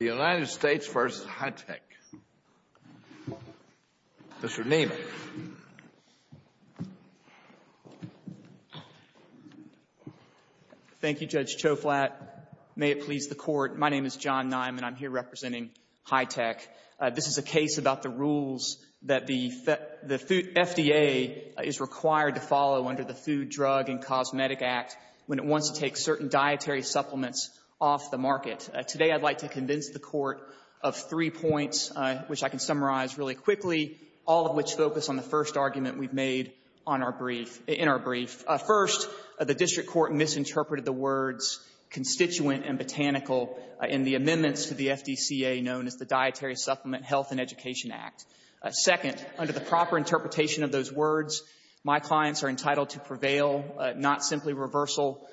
The United States v. Hi-Tech. Mr. Nieman. Thank you, Judge Choflat. May it please the Court. My name is John Nieman. I'm here representing Hi-Tech. This is a case about the rules that the FDA is required to follow under the Food, Drug, and Cosmetic Act when it wants to take certain dietary supplements off the market. Today, I'd like to convince the Court of three points, which I can summarize really quickly, all of which focus on the first argument we've made on our brief — in our brief. First, the district court misinterpreted the words constituent and botanical in the amendments to the FDCA known as the Dietary Supplement Health and Education Act. Second, under the proper interpretation of those words, my clients are entitled to prevail, not simply reversal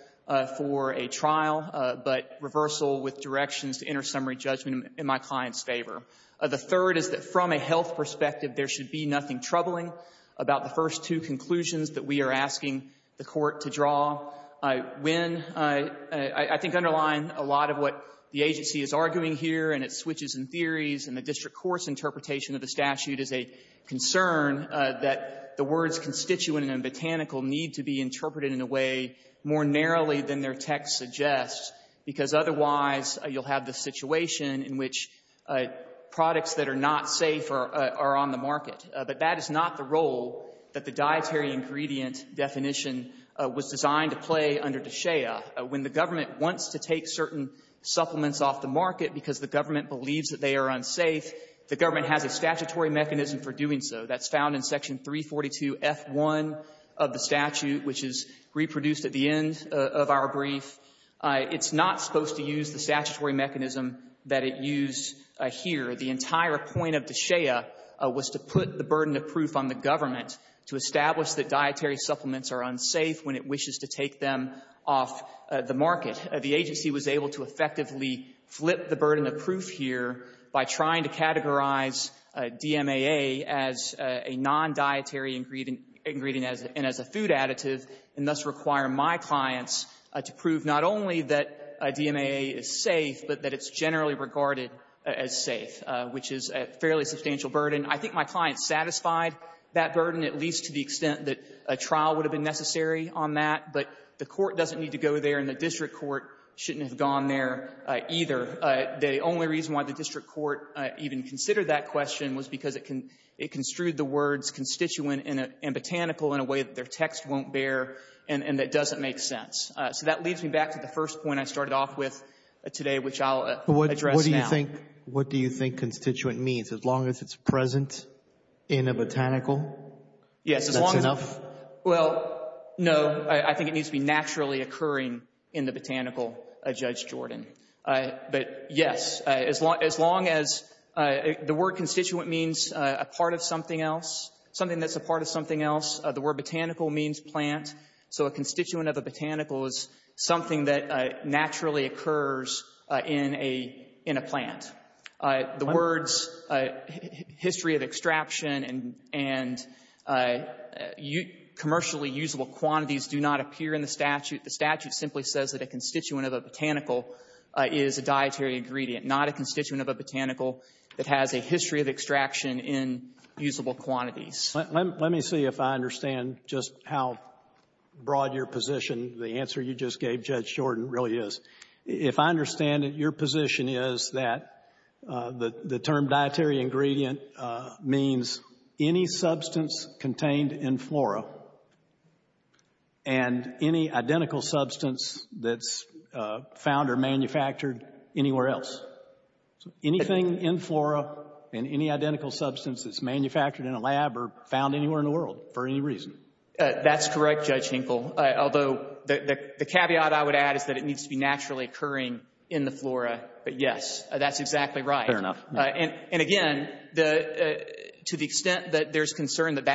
for a trial, but reversal with directions to inter-summary judgment in my client's favor. The third is that from a health perspective, there should be nothing troubling about the first two conclusions that we are asking the Court to draw. When — I think underline a lot of what the agency is arguing here, and it switches in theories, and the district court's interpretation of the statute is a concern that the words constituent and botanical need to be interpreted in a way more narrowly than their text suggests, because otherwise you'll have the situation in which products that are not safe are on the market. But that is not the role that the dietary ingredient definition was designed to play under DSHEA. When the government wants to take certain supplements off the market because the government believes that they are unsafe, the government has a statutory mechanism for doing so. That's found in Section 342F1 of the statute, which is reproduced at the end of our brief. It's not supposed to use the statutory mechanism that it used here. The entire point of DSHEA was to put the burden of proof on the government to establish that dietary supplements are unsafe when it wishes to take them off the market. The agency was able to effectively flip the burden of proof here by trying to categorize DMAA as a non-dietary ingredient and as a food additive, and thus require my clients to prove not only that DMAA is safe, but that it's generally regarded as safe, which is a fairly substantial burden. I think my clients satisfied that burden, at least to the extent that a trial would have been necessary on that. But the Court doesn't need to go there, and the district court shouldn't have gone there either. The only reason why the district court even considered that question was because it construed the words constituent and botanical in a way that their text won't bear, and that doesn't make sense. So that leads me back to the first point I started off with today, which I'll address now. What do you think constituent means? As long as it's present in a botanical? Yes. That's enough? Well, no. I think it needs to be naturally occurring in the botanical, Judge Jordan. But, yes. As long as the word constituent means a part of something else, something that's a part of something else. The word botanical means plant. So a constituent of a botanical is something that naturally occurs in a plant. The words history of extraction and commercially usable quantities do not appear in the statute. The statute simply says that a constituent of a botanical is a dietary ingredient, not a constituent of a botanical that has a history of extraction in usable quantities. Let me see if I understand just how broad your position, the answer you just gave, Judge Jordan, really is. If I understand it, your position is that the term dietary ingredient means any substance contained in flora and any identical substance that's found or manufactured anywhere else. Anything in flora and any identical substance that's manufactured in a lab or found anywhere in the world, for any reason. That's correct, Judge Hinkle, although the caveat I would add is that it needs to be naturally occurring in the flora, but, yes, that's exactly right. Fair enough. And, again, to the extent that there's concern that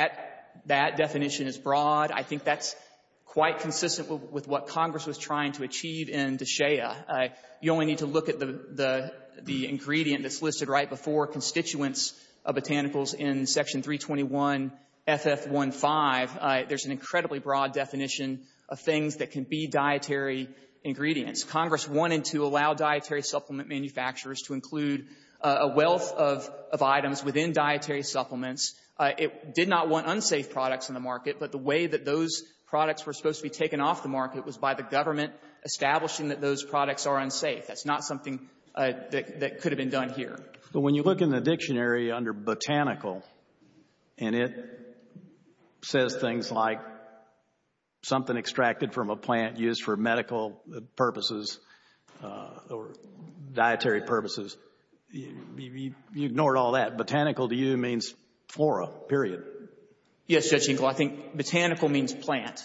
that definition is broad, I think that's quite consistent with what Congress was trying to achieve in DSHEA. You only need to look at the ingredient that's listed right before constituents of botanicals in Section 321 FF15. There's an incredibly broad definition of things that can be dietary ingredients. Congress wanted to allow dietary supplement manufacturers to include a wealth of items within dietary supplements. It did not want unsafe products in the market, but the way that those products were supposed to be taken off the market was by the government establishing that those products are unsafe. That's not something that could have been done here. But when you look in the dictionary under botanical and it says things like something extracted from a plant used for medical purposes or dietary purposes, you ignored all that. Botanical to you means flora, period. Yes, Judge Hinkle. I think botanical means plant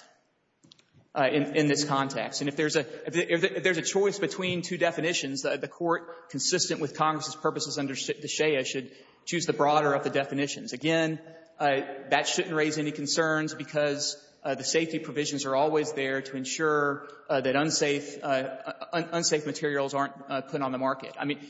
in this context. And if there's a choice between two definitions, the Court, consistent with Congress's purposes under DSHEA, should choose the broader of the definitions. Again, that shouldn't raise any concerns because the safety provisions are always there to ensure that unsafe materials aren't put on the market. I mean,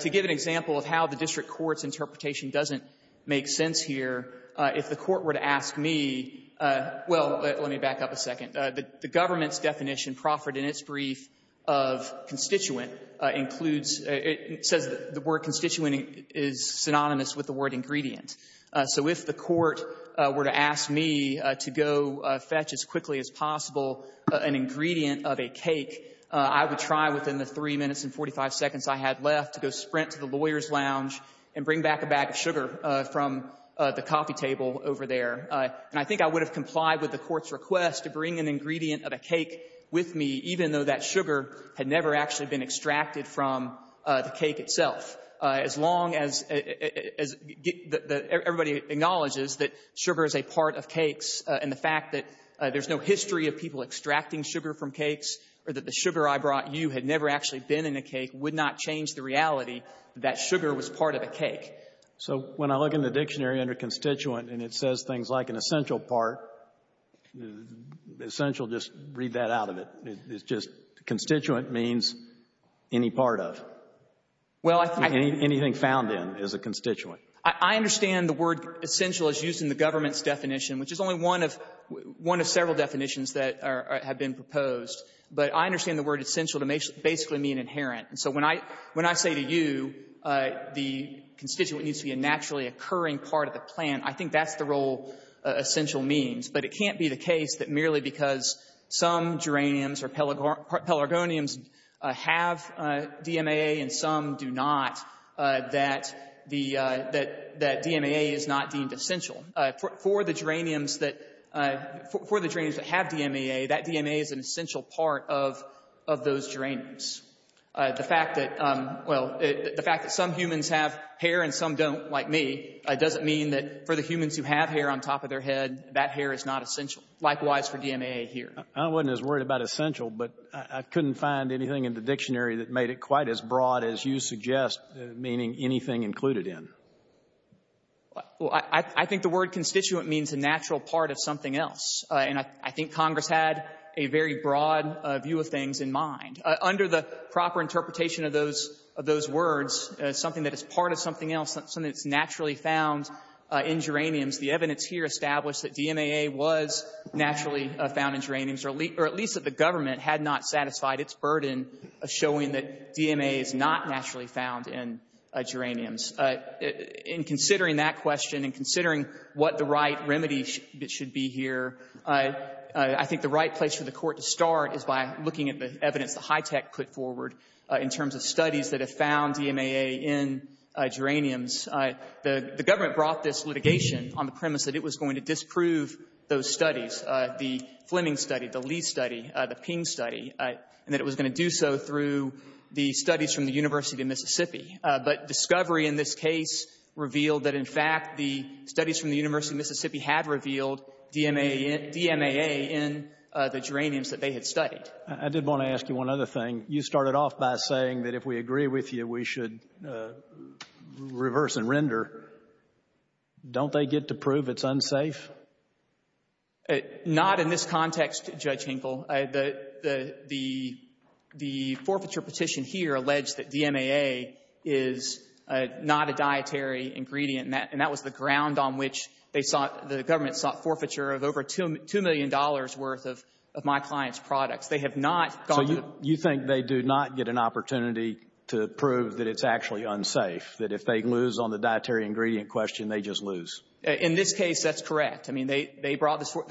to give an example of how the district court's interpretation doesn't make sense here, if the court were to ask me, well, let me back up a second. The government's definition proffered in its brief of constituent includes the word constituent is synonymous with the word ingredient. So if the court were to ask me to go fetch as quickly as possible an ingredient of a cake, I would try within the 3 minutes and 45 seconds I had left to go sprint to the lawyer's lounge and bring back a bag of sugar from the coffee table over there. And I think I would have complied with the court's request to bring an ingredient of a cake with me, even though that sugar had never actually been extracted from the cake itself. As long as the — everybody acknowledges that sugar is a part of cakes, and the fact that there's no history of people extracting sugar from cakes or that the sugar I brought you had never actually been in a cake would not change the reality that that sugar was part of a cake. So when I look in the dictionary under constituent and it says things like an essential part, essential, just read that out of it. It's just constituent means any part of. Anything found in is a constituent. I understand the word essential is used in the government's definition, which is only one of several definitions that have been proposed. But I understand the word essential to basically mean inherent. So when I say to you the constituent needs to be a naturally occurring part of the natural essential means, but it can't be the case that merely because some geraniums or pelargoniums have DMAA and some do not, that the — that DMAA is not deemed essential. For the geraniums that — for the geraniums that have DMAA, that DMAA is an essential part of those geraniums. The fact that — well, the fact that some humans have hair and some don't, like me, doesn't mean that for the humans who have hair on top of their head, that hair is not essential. Likewise for DMAA here. I wasn't as worried about essential, but I couldn't find anything in the dictionary that made it quite as broad as you suggest, meaning anything included in. I think the word constituent means a natural part of something else, and I think Congress had a very broad view of things in mind. Under the proper interpretation of those words, something that is part of something else, something that's naturally found in geraniums, the evidence here established that DMAA was naturally found in geraniums, or at least that the government had not satisfied its burden of showing that DMAA is not naturally found in geraniums. In considering that question and considering what the right remedy should be here, I think the right place for the Court to start is by looking at the evidence that HITECH put forward in terms of studies that have found DMAA in geraniums. The government brought this litigation on the premise that it was going to disprove those studies, the Fleming study, the Lee study, the Ping study, and that it was going to do so through the studies from the University of Mississippi. But discovery in this case revealed that, in fact, the studies from the University of Mississippi had revealed DMAA in the geraniums that they had studied. I did want to ask you one other thing. You started off by saying that if we agree with you, we should reverse and render. Don't they get to prove it's unsafe? Not in this context, Judge Hinkle. The forfeiture petition here alleged that DMAA is not a dietary ingredient, and that was the ground on which they sought, the government sought forfeiture of over $2 million worth of my client's products. So you think they do not get an opportunity to prove that it's actually unsafe? That if they lose on the dietary ingredient question, they just lose? In this case, that's correct. I mean, they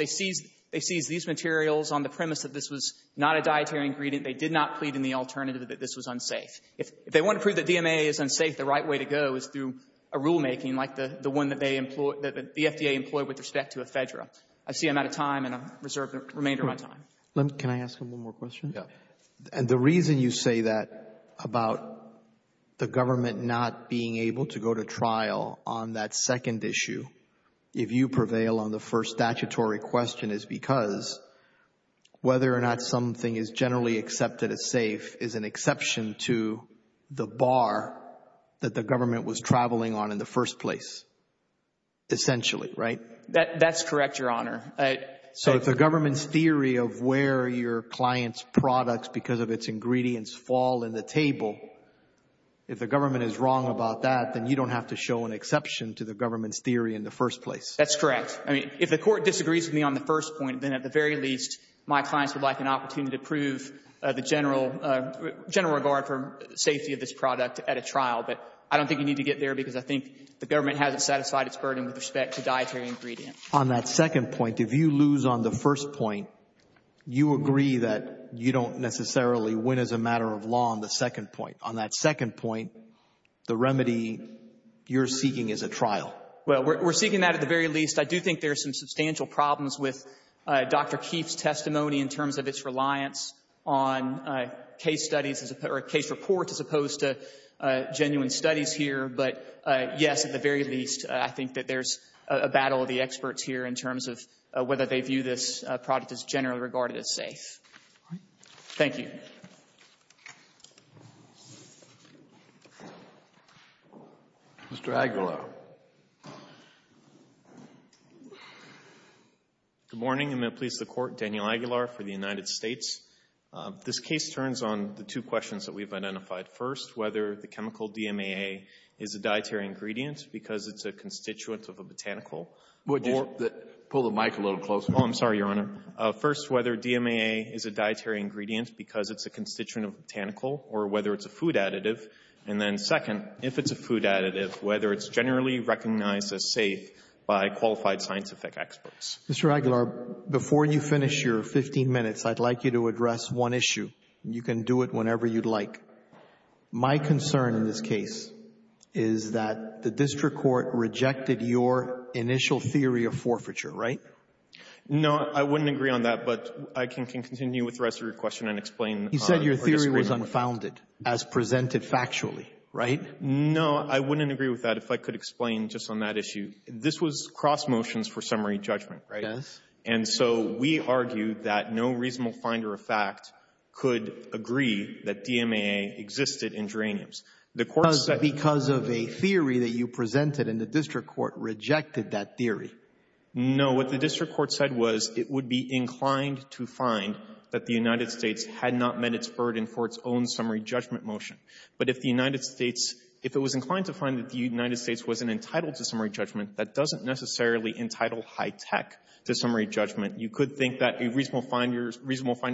seized these materials on the premise that this was not a dietary ingredient. They did not plead in the alternative that this was unsafe. If they want to prove that DMAA is unsafe, the right way to go is through a rulemaking like the one that the FDA employed with respect to ephedra. I see I'm out of time, and I reserve the remainder of my time. Can I ask one more question? And the reason you say that about the government not being able to go to trial on that second issue, if you prevail on the first statutory question, is because whether or not something is generally accepted as safe is an exception to the bar that the government was traveling on in the first place, essentially, right? That's correct, Your Honor. So if the government's theory of where your client's products because of its ingredients fall in the table, if the government is wrong about that, then you don't have to show an exception to the government's theory in the first place? That's correct. I mean, if the Court disagrees with me on the first point, then at the very least, my clients would like an opportunity to prove the general regard for safety of this product at a trial. But I don't think you need to get there because I think the government hasn't satisfied its burden with respect to dietary ingredients. On that second point, if you lose on the first point, you agree that you don't necessarily win as a matter of law on the second point. On that second point, the remedy you're seeking is a trial. Well, we're seeking that at the very least. I do think there are some substantial problems with Dr. Keefe's testimony in terms of its reliance on case studies or case reports as opposed to genuine studies here. But, yes, at the very least, I think that there's a battle of the experts here in terms of whether they view this product as generally regarded as safe. Thank you. Mr. Aguilar. Good morning, and may it please the Court, Daniel Aguilar for the United States. This case turns on the two questions that we've identified first, whether the chemical DMAA is a dietary ingredient because it's a constituent of a botanical. Would you pull the mic a little closer? Oh, I'm sorry, Your Honor. First, whether DMAA is a dietary ingredient because it's a constituent of botanical or whether it's a food additive. And then second, if it's a food additive, whether it's generally recognized as safe by qualified scientific experts. Mr. Aguilar, before you finish your 15 minutes, I'd like you to address one issue. You can do it whenever you'd like. My concern in this case is that the district court rejected your initial theory of forfeiture, right? No, I wouldn't agree on that, but I can continue with the rest of your question and explain our disagreement. You said your theory was unfounded as presented factually, right? No, I wouldn't agree with that if I could explain just on that issue. This was cross motions for summary judgment, right? Yes. And so we argue that no reasonable finder of fact could agree that DMAA existed in geraniums. The Court said — Because of a theory that you presented, and the district court rejected that theory. No. What the district court said was it would be inclined to find that the United States had not met its burden for its own summary judgment motion. But if the United States — if it was inclined to find that the United States wasn't entitled to summary judgment, that doesn't necessarily entitle high-tech to summary judgment. You could think that a reasonable finder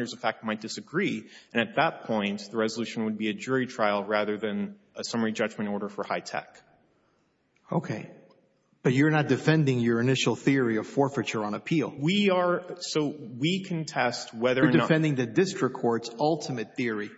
of fact might disagree, and at that point, the resolution would be a jury trial rather than a summary judgment order for high-tech. Okay. But you're not defending your initial theory of forfeiture on appeal. We are. So we contest whether or not — You're defending the district court's ultimate theory.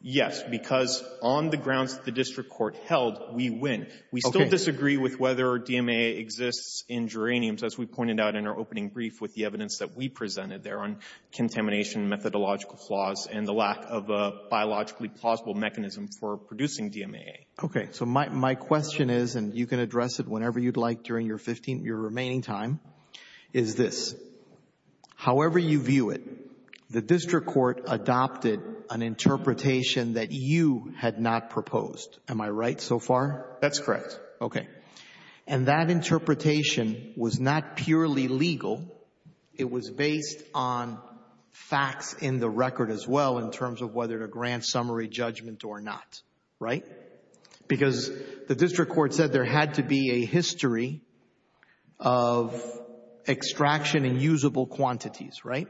Yes, because on the grounds that the district court held, we win. Okay. We disagree with whether DMAA exists in geraniums, as we pointed out in our opening brief with the evidence that we presented there on contamination, methodological flaws, and the lack of a biologically plausible mechanism for producing DMAA. Okay. So my question is, and you can address it whenever you'd like during your 15 — your remaining time, is this. However you view it, the district court adopted an interpretation that you had not proposed. Am I right so far? That's correct. Okay. And that interpretation was not purely legal. It was based on facts in the record as well, in terms of whether to grant summary judgment or not, right? Because the district court said there had to be a history of extraction and usable quantities, right?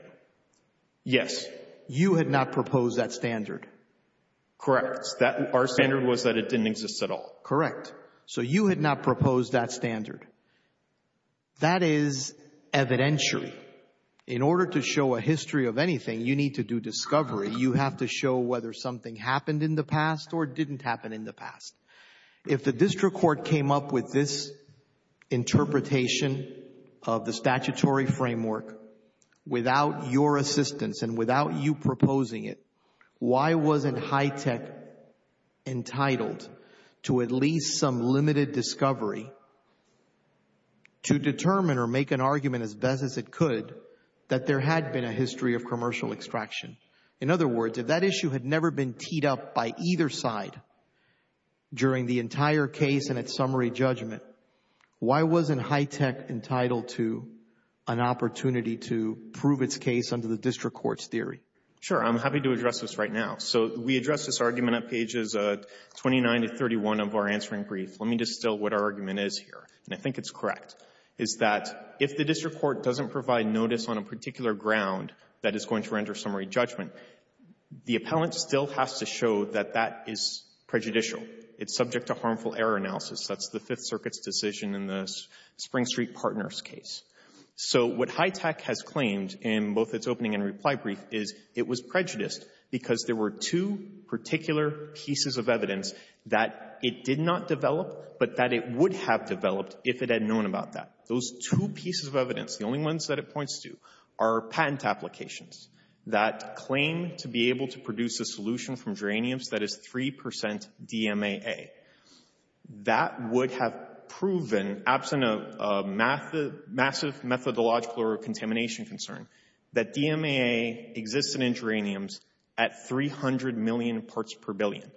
Yes. You had not proposed that standard. Correct. Our standard was that it didn't exist at all. Correct. So you had not proposed that standard. That is evidentiary. In order to show a history of anything, you need to do discovery. You have to show whether something happened in the past or didn't happen in the past. If the district court came up with this interpretation of the statutory framework without your assistance and without you proposing it, why wasn't HITECH entitled to at least some limited discovery to determine or make an argument as best as it could that there had been a history of commercial extraction? In other words, if that issue had never been teed up by either side during the entire case and its summary judgment, why wasn't HITECH entitled to an opportunity to prove its case under the district court's theory? Sure. I'm happy to address this right now. So we address this argument at pages 29 to 31 of our answering brief. Let me distill what our argument is here. And I think it's correct, is that if the district court doesn't provide notice on a particular ground that is going to render summary judgment, the appellant still has to show that that is prejudicial. It's subject to harmful error analysis. That's the Fifth Circuit's decision in the Spring Street Partners case. So what HITECH has claimed in both its opening and reply brief is it was prejudiced because there were two particular pieces of evidence that it did not develop, but that it would have developed if it had known about that. Those two pieces of evidence, the only ones that it points to, are patent applications that claim to be able to produce a solution from geraniums that is 3 percent DMAA. That would have proven, absent of massive methodological or contamination concern, that DMAA existed in geraniums at 300 million parts per billion.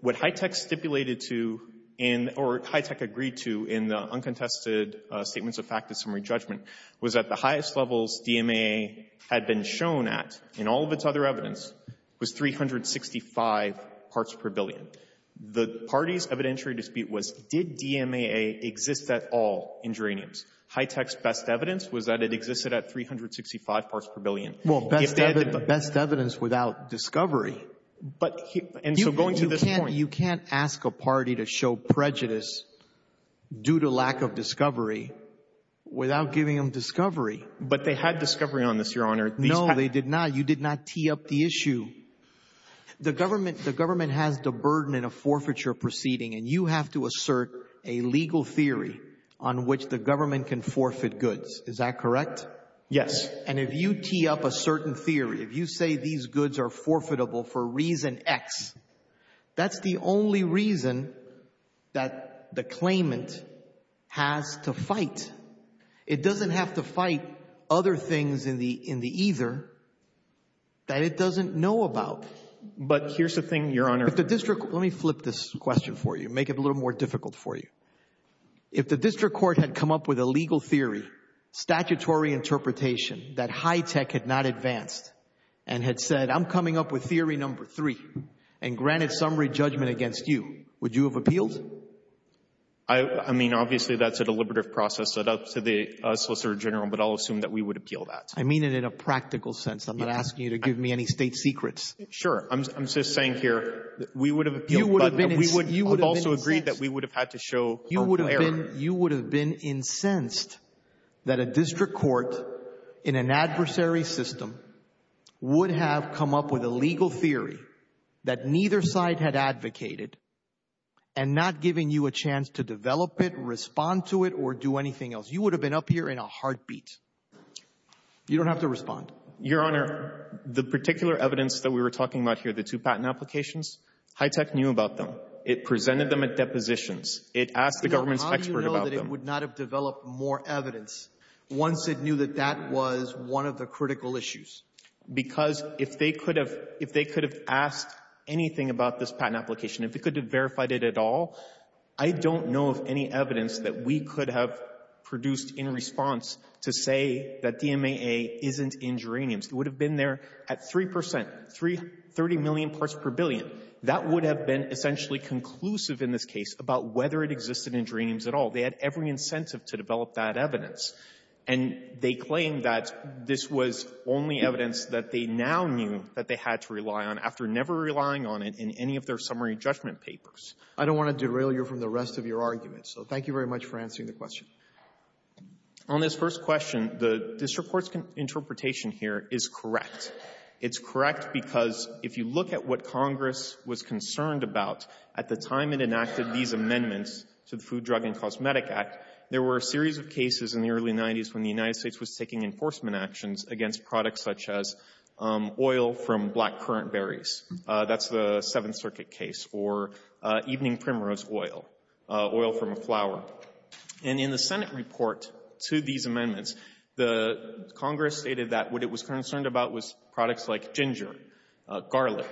What HITECH stipulated to in or HITECH agreed to in the uncontested statements of fact of summary judgment was that the highest levels DMAA had been shown at in all of its other evidence was 365 parts per billion. The party's evidentiary dispute was, did DMAA exist at all in geraniums? HITECH's best evidence was that it existed at 365 parts per billion. Well, best evidence without discovery. But, and so going to this point. You can't ask a party to show prejudice due to lack of discovery without giving them discovery. But they had discovery on this, Your Honor. No, they did not. You did not tee up the issue. a legal theory on which the government can forfeit goods. Is that correct? Yes. And if you tee up a certain theory, if you say these goods are forfeitable for reason X, that's the only reason that the claimant has to fight. It doesn't have to fight other things in the either that it doesn't know about. But here's the thing, Your Honor. If the district, let me flip this question for you. Make it a little more difficult for you. If the district court had come up with a legal theory, statutory interpretation that HITECH had not advanced and had said, I'm coming up with theory number three and granted summary judgment against you, would you have appealed? I mean, obviously that's a deliberative process set up to the Solicitor General, but I'll assume that we would appeal that. I mean it in a practical sense. I'm not asking you to give me any state secrets. Sure. I'm just saying here that we would have appealed. But we would have also agreed that we would have had to show error. You would have been incensed that a district court in an adversary system would have come up with a legal theory that neither side had advocated and not giving you a chance to develop it, respond to it, or do anything else. You would have been up here in a heartbeat. You don't have to respond. Your Honor, the particular evidence that we were talking about here, the two It presented them at depositions. It asked the government's expert about them. How do you know that it would not have developed more evidence once it knew that that was one of the critical issues? Because if they could have asked anything about this patent application, if it could have verified it at all, I don't know of any evidence that we could have produced in response to say that DMAA isn't in geraniums. It would have been there at 3%, 30 million parts per billion. That would have been essentially conclusive in this case about whether it existed in geraniums at all. They had every incentive to develop that evidence. And they claimed that this was only evidence that they now knew that they had to rely on after never relying on it in any of their summary judgment papers. I don't want to derail you from the rest of your argument, so thank you very much for answering the question. On this first question, the district court's interpretation here is correct. It's correct because if you look at what Congress was concerned about at the time it enacted these amendments to the Food, Drug, and Cosmetic Act, there were a series of cases in the early 90s when the United States was taking enforcement actions against products such as oil from black currant berries. That's the Seventh Circuit case, or evening primrose oil, oil from a flower. And in the Senate report to these amendments, the Congress stated that what it was concerned about was products like ginger, garlic,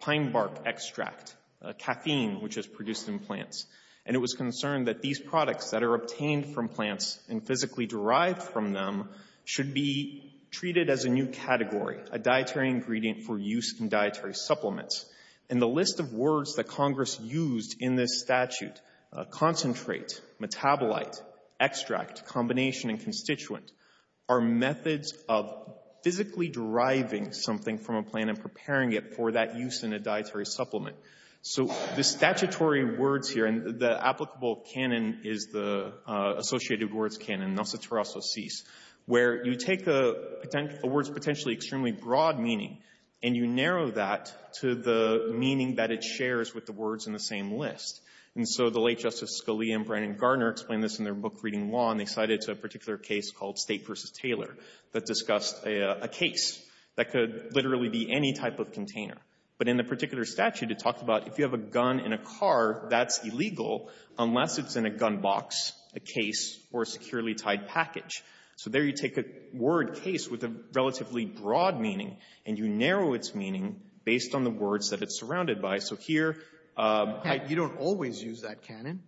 pine bark extract, caffeine, which is produced in plants. And it was concerned that these products that are obtained from plants and physically derived from them should be treated as a new category, a dietary ingredient for use in dietary supplements. And the list of words that Congress used in this statute, concentrate, metabolite, extract, combination, and constituent, are methods of physically deriving something from a plant and preparing it for that use in a dietary supplement. So the statutory words here, and the applicable canon is the associated words canon, nosoterososis, where you take a word's potentially extremely broad meaning and you narrow that to the meaning that it shares with the words in the same list. And so the late Justice Scalia and Brandon Garner explained this in their book Reading Law, and they cited a particular case called State v. Taylor that discussed a case that could literally be any type of container. But in the particular statute, it talked about if you have a gun in a car, that's illegal unless it's in a gun box, a case, or a securely tied package. So there you take a word case with a relatively broad meaning and you narrow its meaning based on the words that it's in. And you don't always use that canon.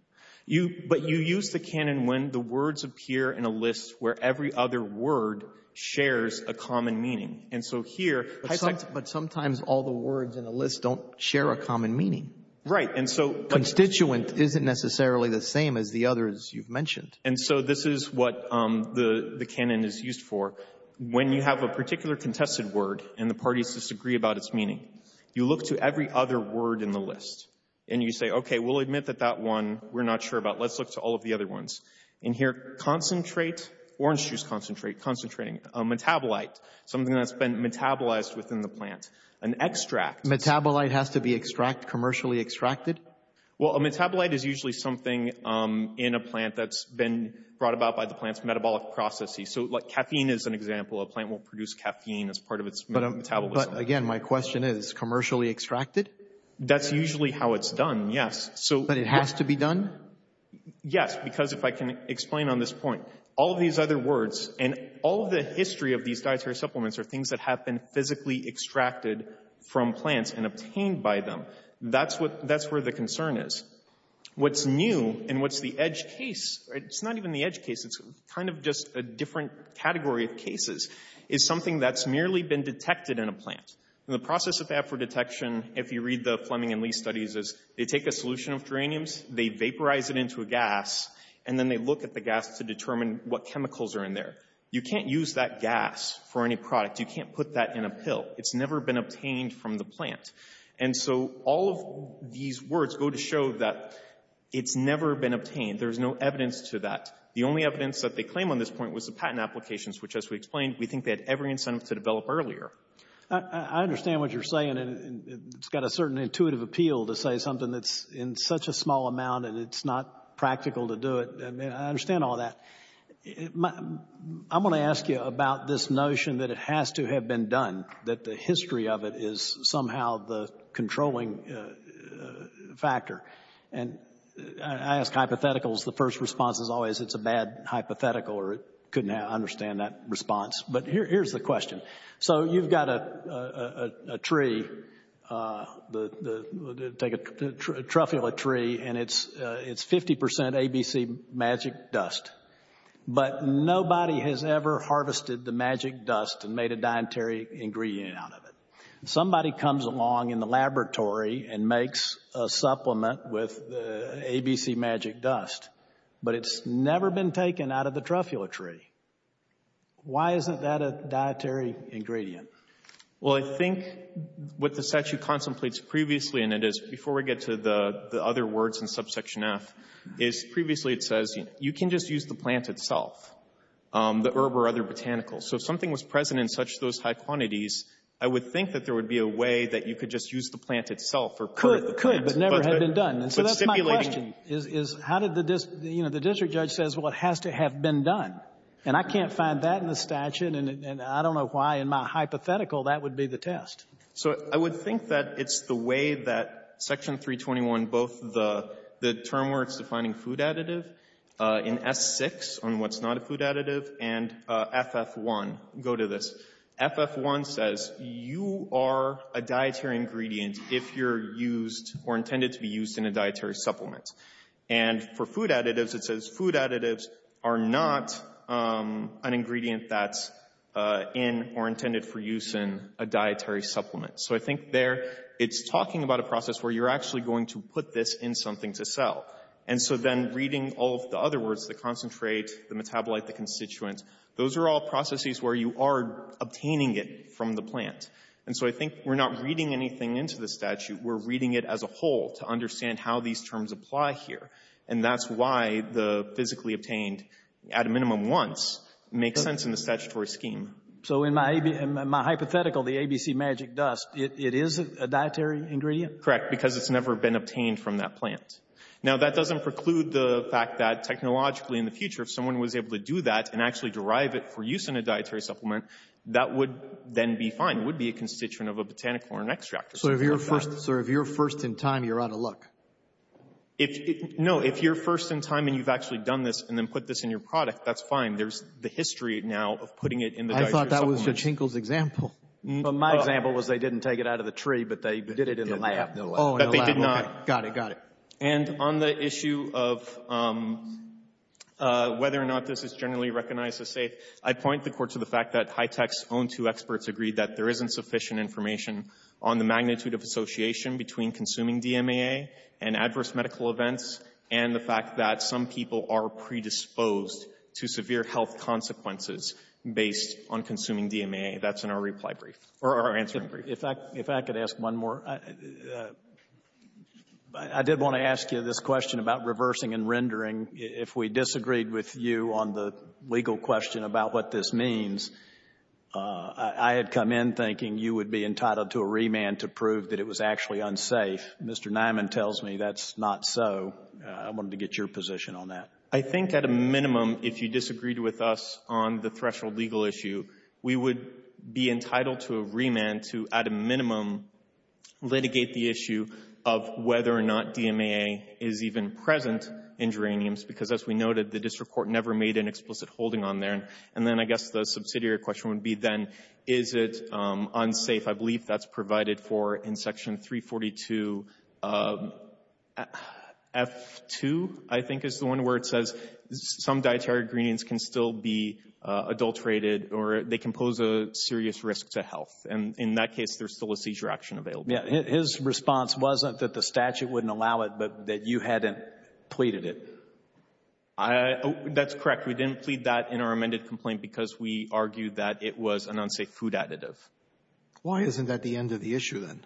You, but you use the canon when the words appear in a list where every other word shares a common meaning. And so here — But sometimes all the words in a list don't share a common meaning. Right. And so — Constituent isn't necessarily the same as the others you've mentioned. And so this is what the canon is used for. When you have a particular contested word and the parties disagree about its meaning, you look to every other word in the list. And you admit that that one we're not sure about. Let's look to all of the other ones. In here, concentrate, orange juice concentrate, concentrating, metabolite, something that's been metabolized within the plant. An extract — Metabolite has to be extract, commercially extracted? Well, a metabolite is usually something in a plant that's been brought about by the plant's metabolic processes. So like caffeine is an example. A plant will produce caffeine as part of its metabolism. But again, my question is, commercially extracted? That's usually how it's done, yes. So — But it has to be done? Yes, because if I can explain on this point, all these other words and all the history of these dietary supplements are things that have been physically extracted from plants and obtained by them. That's what — that's where the concern is. What's new and what's the edge case — it's not even the edge case, it's kind of just a different category of cases — is something that's merely been we read the Fleming and Lee studies as they take a solution of geraniums, they vaporize it into a gas, and then they look at the gas to determine what chemicals are in there. You can't use that gas for any product. You can't put that in a pill. It's never been obtained from the plant. And so all of these words go to show that it's never been obtained. There's no evidence to that. The only evidence that they claim on this point was the patent applications, which, as we explained, we think they had every incentive to develop earlier. I understand what you're saying, and it's got a certain intuitive appeal to say something that's in such a small amount and it's not practical to do it. I understand all that. I'm going to ask you about this notion that it has to have been done, that the history of it is somehow the controlling factor. And I ask hypotheticals. The first response is always it's a bad hypothetical or it couldn't understand that response. But here's the question. So you've got a tree, a truffula tree, and it's 50% ABC magic dust. But nobody has ever harvested the magic dust and made a dietary ingredient out of it. Somebody comes along in the laboratory and makes a supplement with ABC magic dust, but it's never been taken out of the truffula tree. Why isn't that a dietary ingredient? Well, I think what the statute contemplates previously in it is, before we get to the other words in subsection F, is previously it says you can just use the plant itself, the herb or other botanicals. So if something was present in such those high quantities, I would think that there would be a way that you could just use the plant itself or part of the plant. Could, but never had been done. But stipulating — And I can't find that in the statute, and I don't know why in my hypothetical that would be the test. So I would think that it's the way that Section 321, both the term where it's defining food additive in S6 on what's not a food additive and FF1 go to this. FF1 says you are a dietary ingredient if you're used or intended to be used in a dietary supplement. And for food additives, it says food additives are not an ingredient that's in or intended for use in a dietary supplement. So I think there it's talking about a process where you're actually going to put this in something to sell. And so then reading all of the other words, the concentrate, the metabolite, the constituent, those are all processes where you are obtaining it from the plant. And so I think we're not reading anything into the statute. We're reading it as a whole to understand how these terms apply here. And that's why the physically obtained at a minimum once makes sense in the statutory scheme. So in my hypothetical, the ABC magic dust, it is a dietary ingredient? Correct. Because it's never been obtained from that plant. Now, that doesn't preclude the fact that technologically in the future, if someone was able to do that and actually derive it for use in a dietary supplement, that would then be fine. It would be a constituent of a botanical or an extractor. So if you're first in time, you're out of luck? No. If you're first in time and you've actually done this and then put this in your product, that's fine. There's the history now of putting it in the dietary supplement. I thought that was your example. My example was they didn't take it out of the tree, but they did it in a lab. Oh, in a lab. Okay. Got it. Got it. And on the issue of whether or not this is generally recognized as safe, I point the court to the fact that high-tech's own two experts agreed that there isn't sufficient information on the magnitude of association between consuming DMAA and adverse medical events and the fact that some people are predisposed to severe health consequences based on consuming DMAA. That's in our reply brief or our answering brief. If I could ask one more. I did want to ask you this question about reversing and rendering. If we disagreed with you on the legal question about what this means, I had come in thinking you would be entitled to a remand to prove that it was actually unsafe. Mr. Nyman tells me that's not so. I wanted to get your position on that. I think at a minimum, if you disagreed with us on the threshold legal issue, we would be entitled to a remand to, at a minimum, litigate the issue of whether or not DMAA is even present in geraniums because, as we noted, the district court never made an explicit holding on there. And then I guess the subsidiary question would be then, is it unsafe? I believe that's provided for in Section 342 F2, I think is the one where it says some dietary ingredients can still be adulterated or they can pose a serious risk to health. In that case, there's still a seizure action available. His response wasn't that the statute wouldn't allow it but that you hadn't pleaded it. That's correct. We didn't plead that in our amended complaint because we argued that it was an unsafe food additive. Why isn't that the end of the issue then?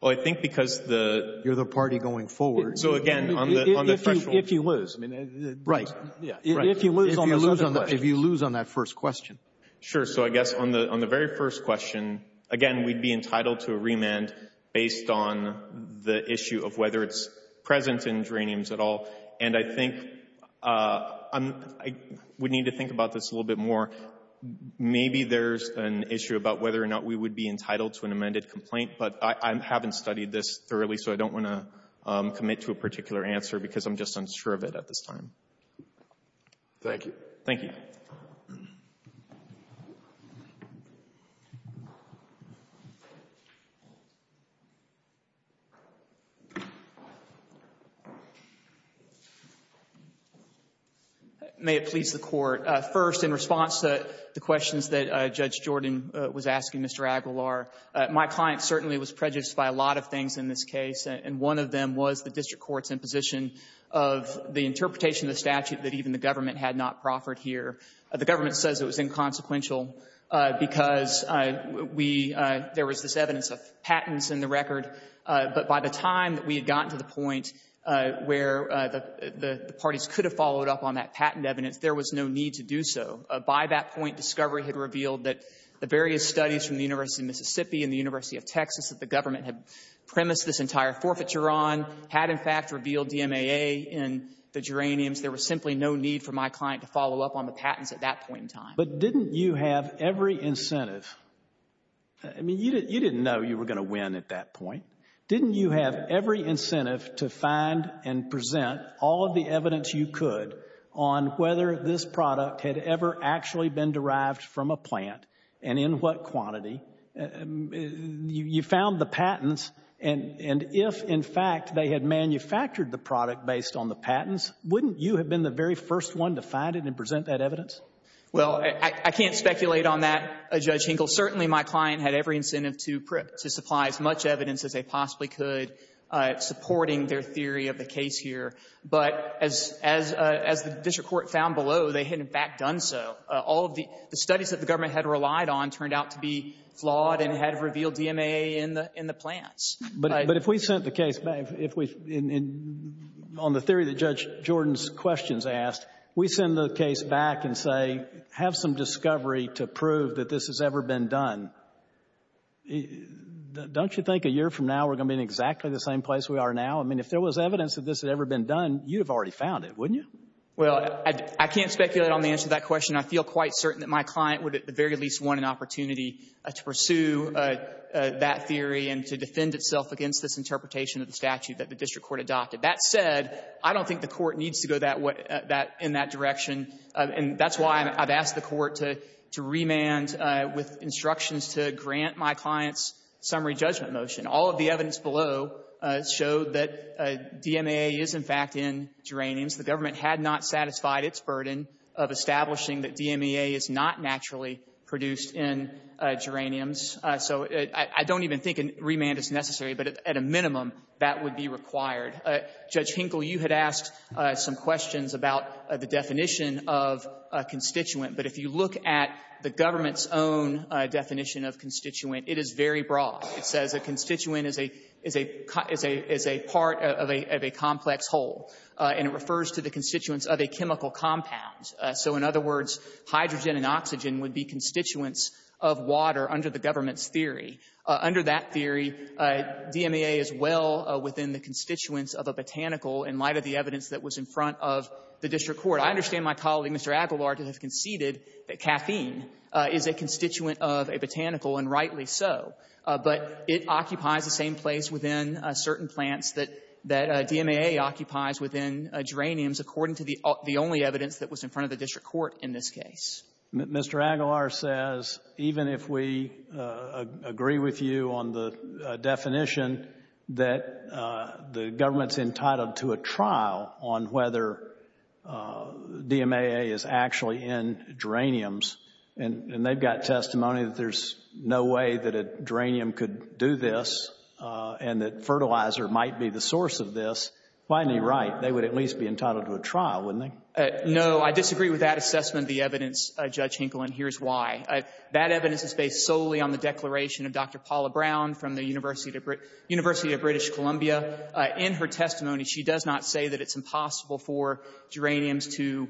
Well, I think because the – You're the party going forward. So, again, on the threshold – If you lose. Right. If you lose on that first question. Sure. So, I guess on the very first question, again, we'd be entitled to a remand based on the issue of whether it's present in geraniums at all. And I think I would need to think about this a little bit more. Maybe there's an issue about whether or not we would be entitled to an amended complaint, but I haven't studied this thoroughly, so I don't want to commit to a particular answer because I'm just unsure of it at this time. Thank you. Thank you. May it please the Court. First, in response to the questions that Judge Jordan was asking Mr. Aguilar, my client certainly was prejudiced by a lot of things in this case, and one of them was the district court's imposition of the interpretation of the statute that even the government had not proffered here. The government says it was inconsequential because we – there was this evidence of patents in the record. But by the time that we had gotten to the point where the parties could have followed up on that patent evidence, there was no need to do so. By that point, discovery had revealed that the various studies from the University of Mississippi and the University of Texas that the government had premised this entire forfeiture on had, in fact, revealed DMAA in the geraniums. There was simply no need for my client to follow up on the patents at that point in time. But didn't you have every incentive? I mean, you didn't know you were going to win at that point. Didn't you have every incentive to find and present all of the evidence you could on whether this product had ever actually been derived from a plant and in what quantity? You found the patents, and if, in fact, they had manufactured the product based on the patents, wouldn't you have been the very first one to find it and present that evidence? Well, I can't speculate on that, Judge Hinkle. Certainly, my client had every incentive to supply as much evidence as they possibly could supporting their theory of the case here. But as the district court found below, they had, in fact, done so. All of the studies that the government had relied on turned out to be flawed and had revealed DMAA in the plants. But if we sent the case back, on the theory that Judge Jordan's questions asked, we send the case back and say, have some discovery to prove that this has ever been done, don't you think a year from now we're going to be in exactly the same place we are now? I mean, if there was evidence that this had ever been done, you'd have already found it, wouldn't you? Well, I can't speculate on the answer to that question. I feel quite certain that my client would at the very least want an opportunity to pursue that theory and to defend itself against this interpretation of the statute that the district court adopted. That said, I don't think the court needs to go that way, in that direction. And that's why I've asked the court to remand with instructions to grant my client's summary judgment motion. All of the evidence below showed that DMAA is, in fact, in geraniums. The government had not satisfied its burden of establishing that DMAA is not naturally produced in geraniums. So I don't even think a remand is necessary, but at a minimum that would be required. Judge Hinkle, you had asked some questions about the definition of constituent. But if you look at the government's own definition of constituent, it is very broad. It says a constituent is a part of a complex whole. And it refers to the constituents of a chemical compound. So in other words, hydrogen and oxygen would be constituents of water under the government's theory. Under that theory, DMAA is well within the constituents of a botanical in light of the evidence that was in front of the district court. I understand my colleague, Mr. Aguilar, to have conceded that caffeine is a constituent of a botanical, and rightly so. But it occupies the same place within certain plants that DMAA occupies within geraniums, according to the only evidence that was in front of the district court in this case. Mr. Aguilar says, even if we agree with you on the definition that the government's entitled to a trial on whether DMAA is actually in geraniums, and they've got testimony that there's no way that a geranium could do this, and that fertilizer might be the source of this, finally right. They would at least be entitled to a trial, wouldn't they? No. I disagree with that assessment of the evidence, Judge Hinkle, and here's why. That evidence is based solely on the declaration of Dr. Paula Brown from the University of British Columbia. In her testimony, she does not say that it's impossible for geraniums to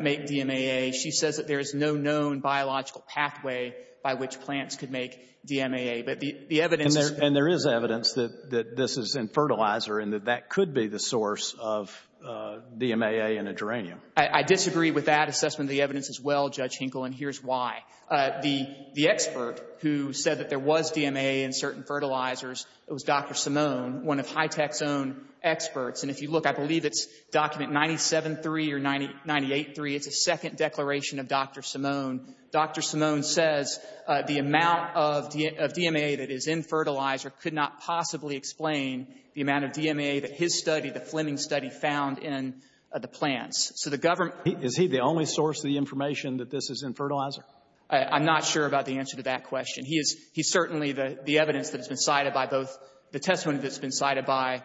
make DMAA. She says that there is no known biological pathway by which plants could make DMAA. But the evidence is that the — And there is evidence that this is in fertilizer and that that could be the source of DMAA in a geranium. I disagree with that assessment of the evidence as well, Judge Hinkle, and here's why. The expert who said that there was DMAA in certain fertilizers was Dr. Simone, one of HITECH's own experts. And if you look, I believe it's document 97-3 or 98-3. It's a second declaration of Dr. Simone. Dr. Simone says the amount of DMAA that is in fertilizer could not possibly explain the amount of DMAA that his study, the Fleming study, found in the plants. So the government — Is he the only source of the information that this is in fertilizer? I'm not sure about the answer to that question. He is — he's certainly the evidence that has been cited by both — the testimony that has been cited by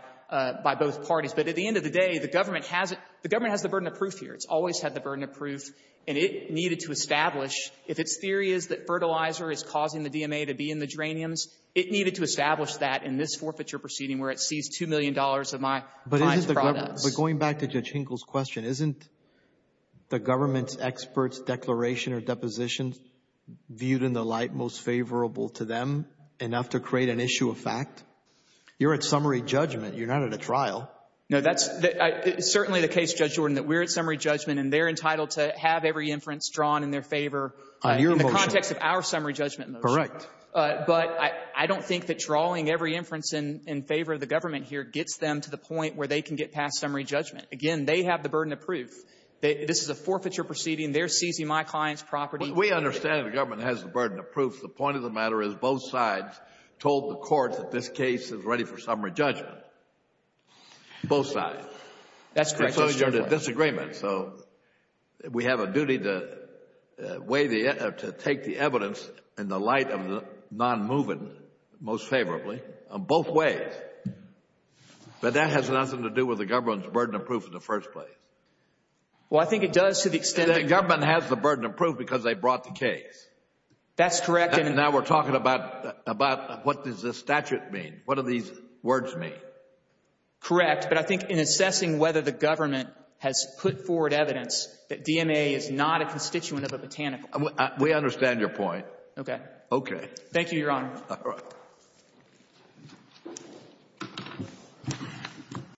both parties. But at the end of the day, the government has it — the government has the burden of proof here. It's always had the burden of proof, and it needed to establish, if its theory is that fertilizer is causing the DMAA to be in the geraniums, it needed to establish that in this forfeiture proceeding where it seized $2 million of my products. But isn't the — but going back to Judge Hinkle's question, isn't the government's experts' declaration or depositions viewed in the light most favorable to them enough to create an issue of fact? You're at summary judgment. You're not at a trial. No, that's — it's certainly the case, Judge Jordan, that we're at summary judgment, and they're entitled to have every inference drawn in their favor — On your motion. — in the context of our summary judgment motion. Correct. But I don't think that drawing every inference in favor of the government here gets them to the point where they can get past summary judgment. Again, they have the burden of proof. This is a forfeiture proceeding. They're seizing my client's property. We understand the government has the burden of proof. The point of the matter is both sides told the court that this case is ready for summary judgment. Both sides. That's correct, Judge Jordan. And so is your disagreement. So we have a duty to weigh the — to take the evidence in the light of the nonmoving most favorably on both ways. But that has nothing to do with the government's burden of proof in the first place. Well, I think it does to the extent that — The government has the burden of proof because they brought the case. That's correct. And now we're talking about what does this statute mean? What do these words mean? Correct. But I think in assessing whether the government has put forward evidence that DMA is not a constituent of a botanical — We understand your point. Okay. Okay. Thank you, Your Honor. All right.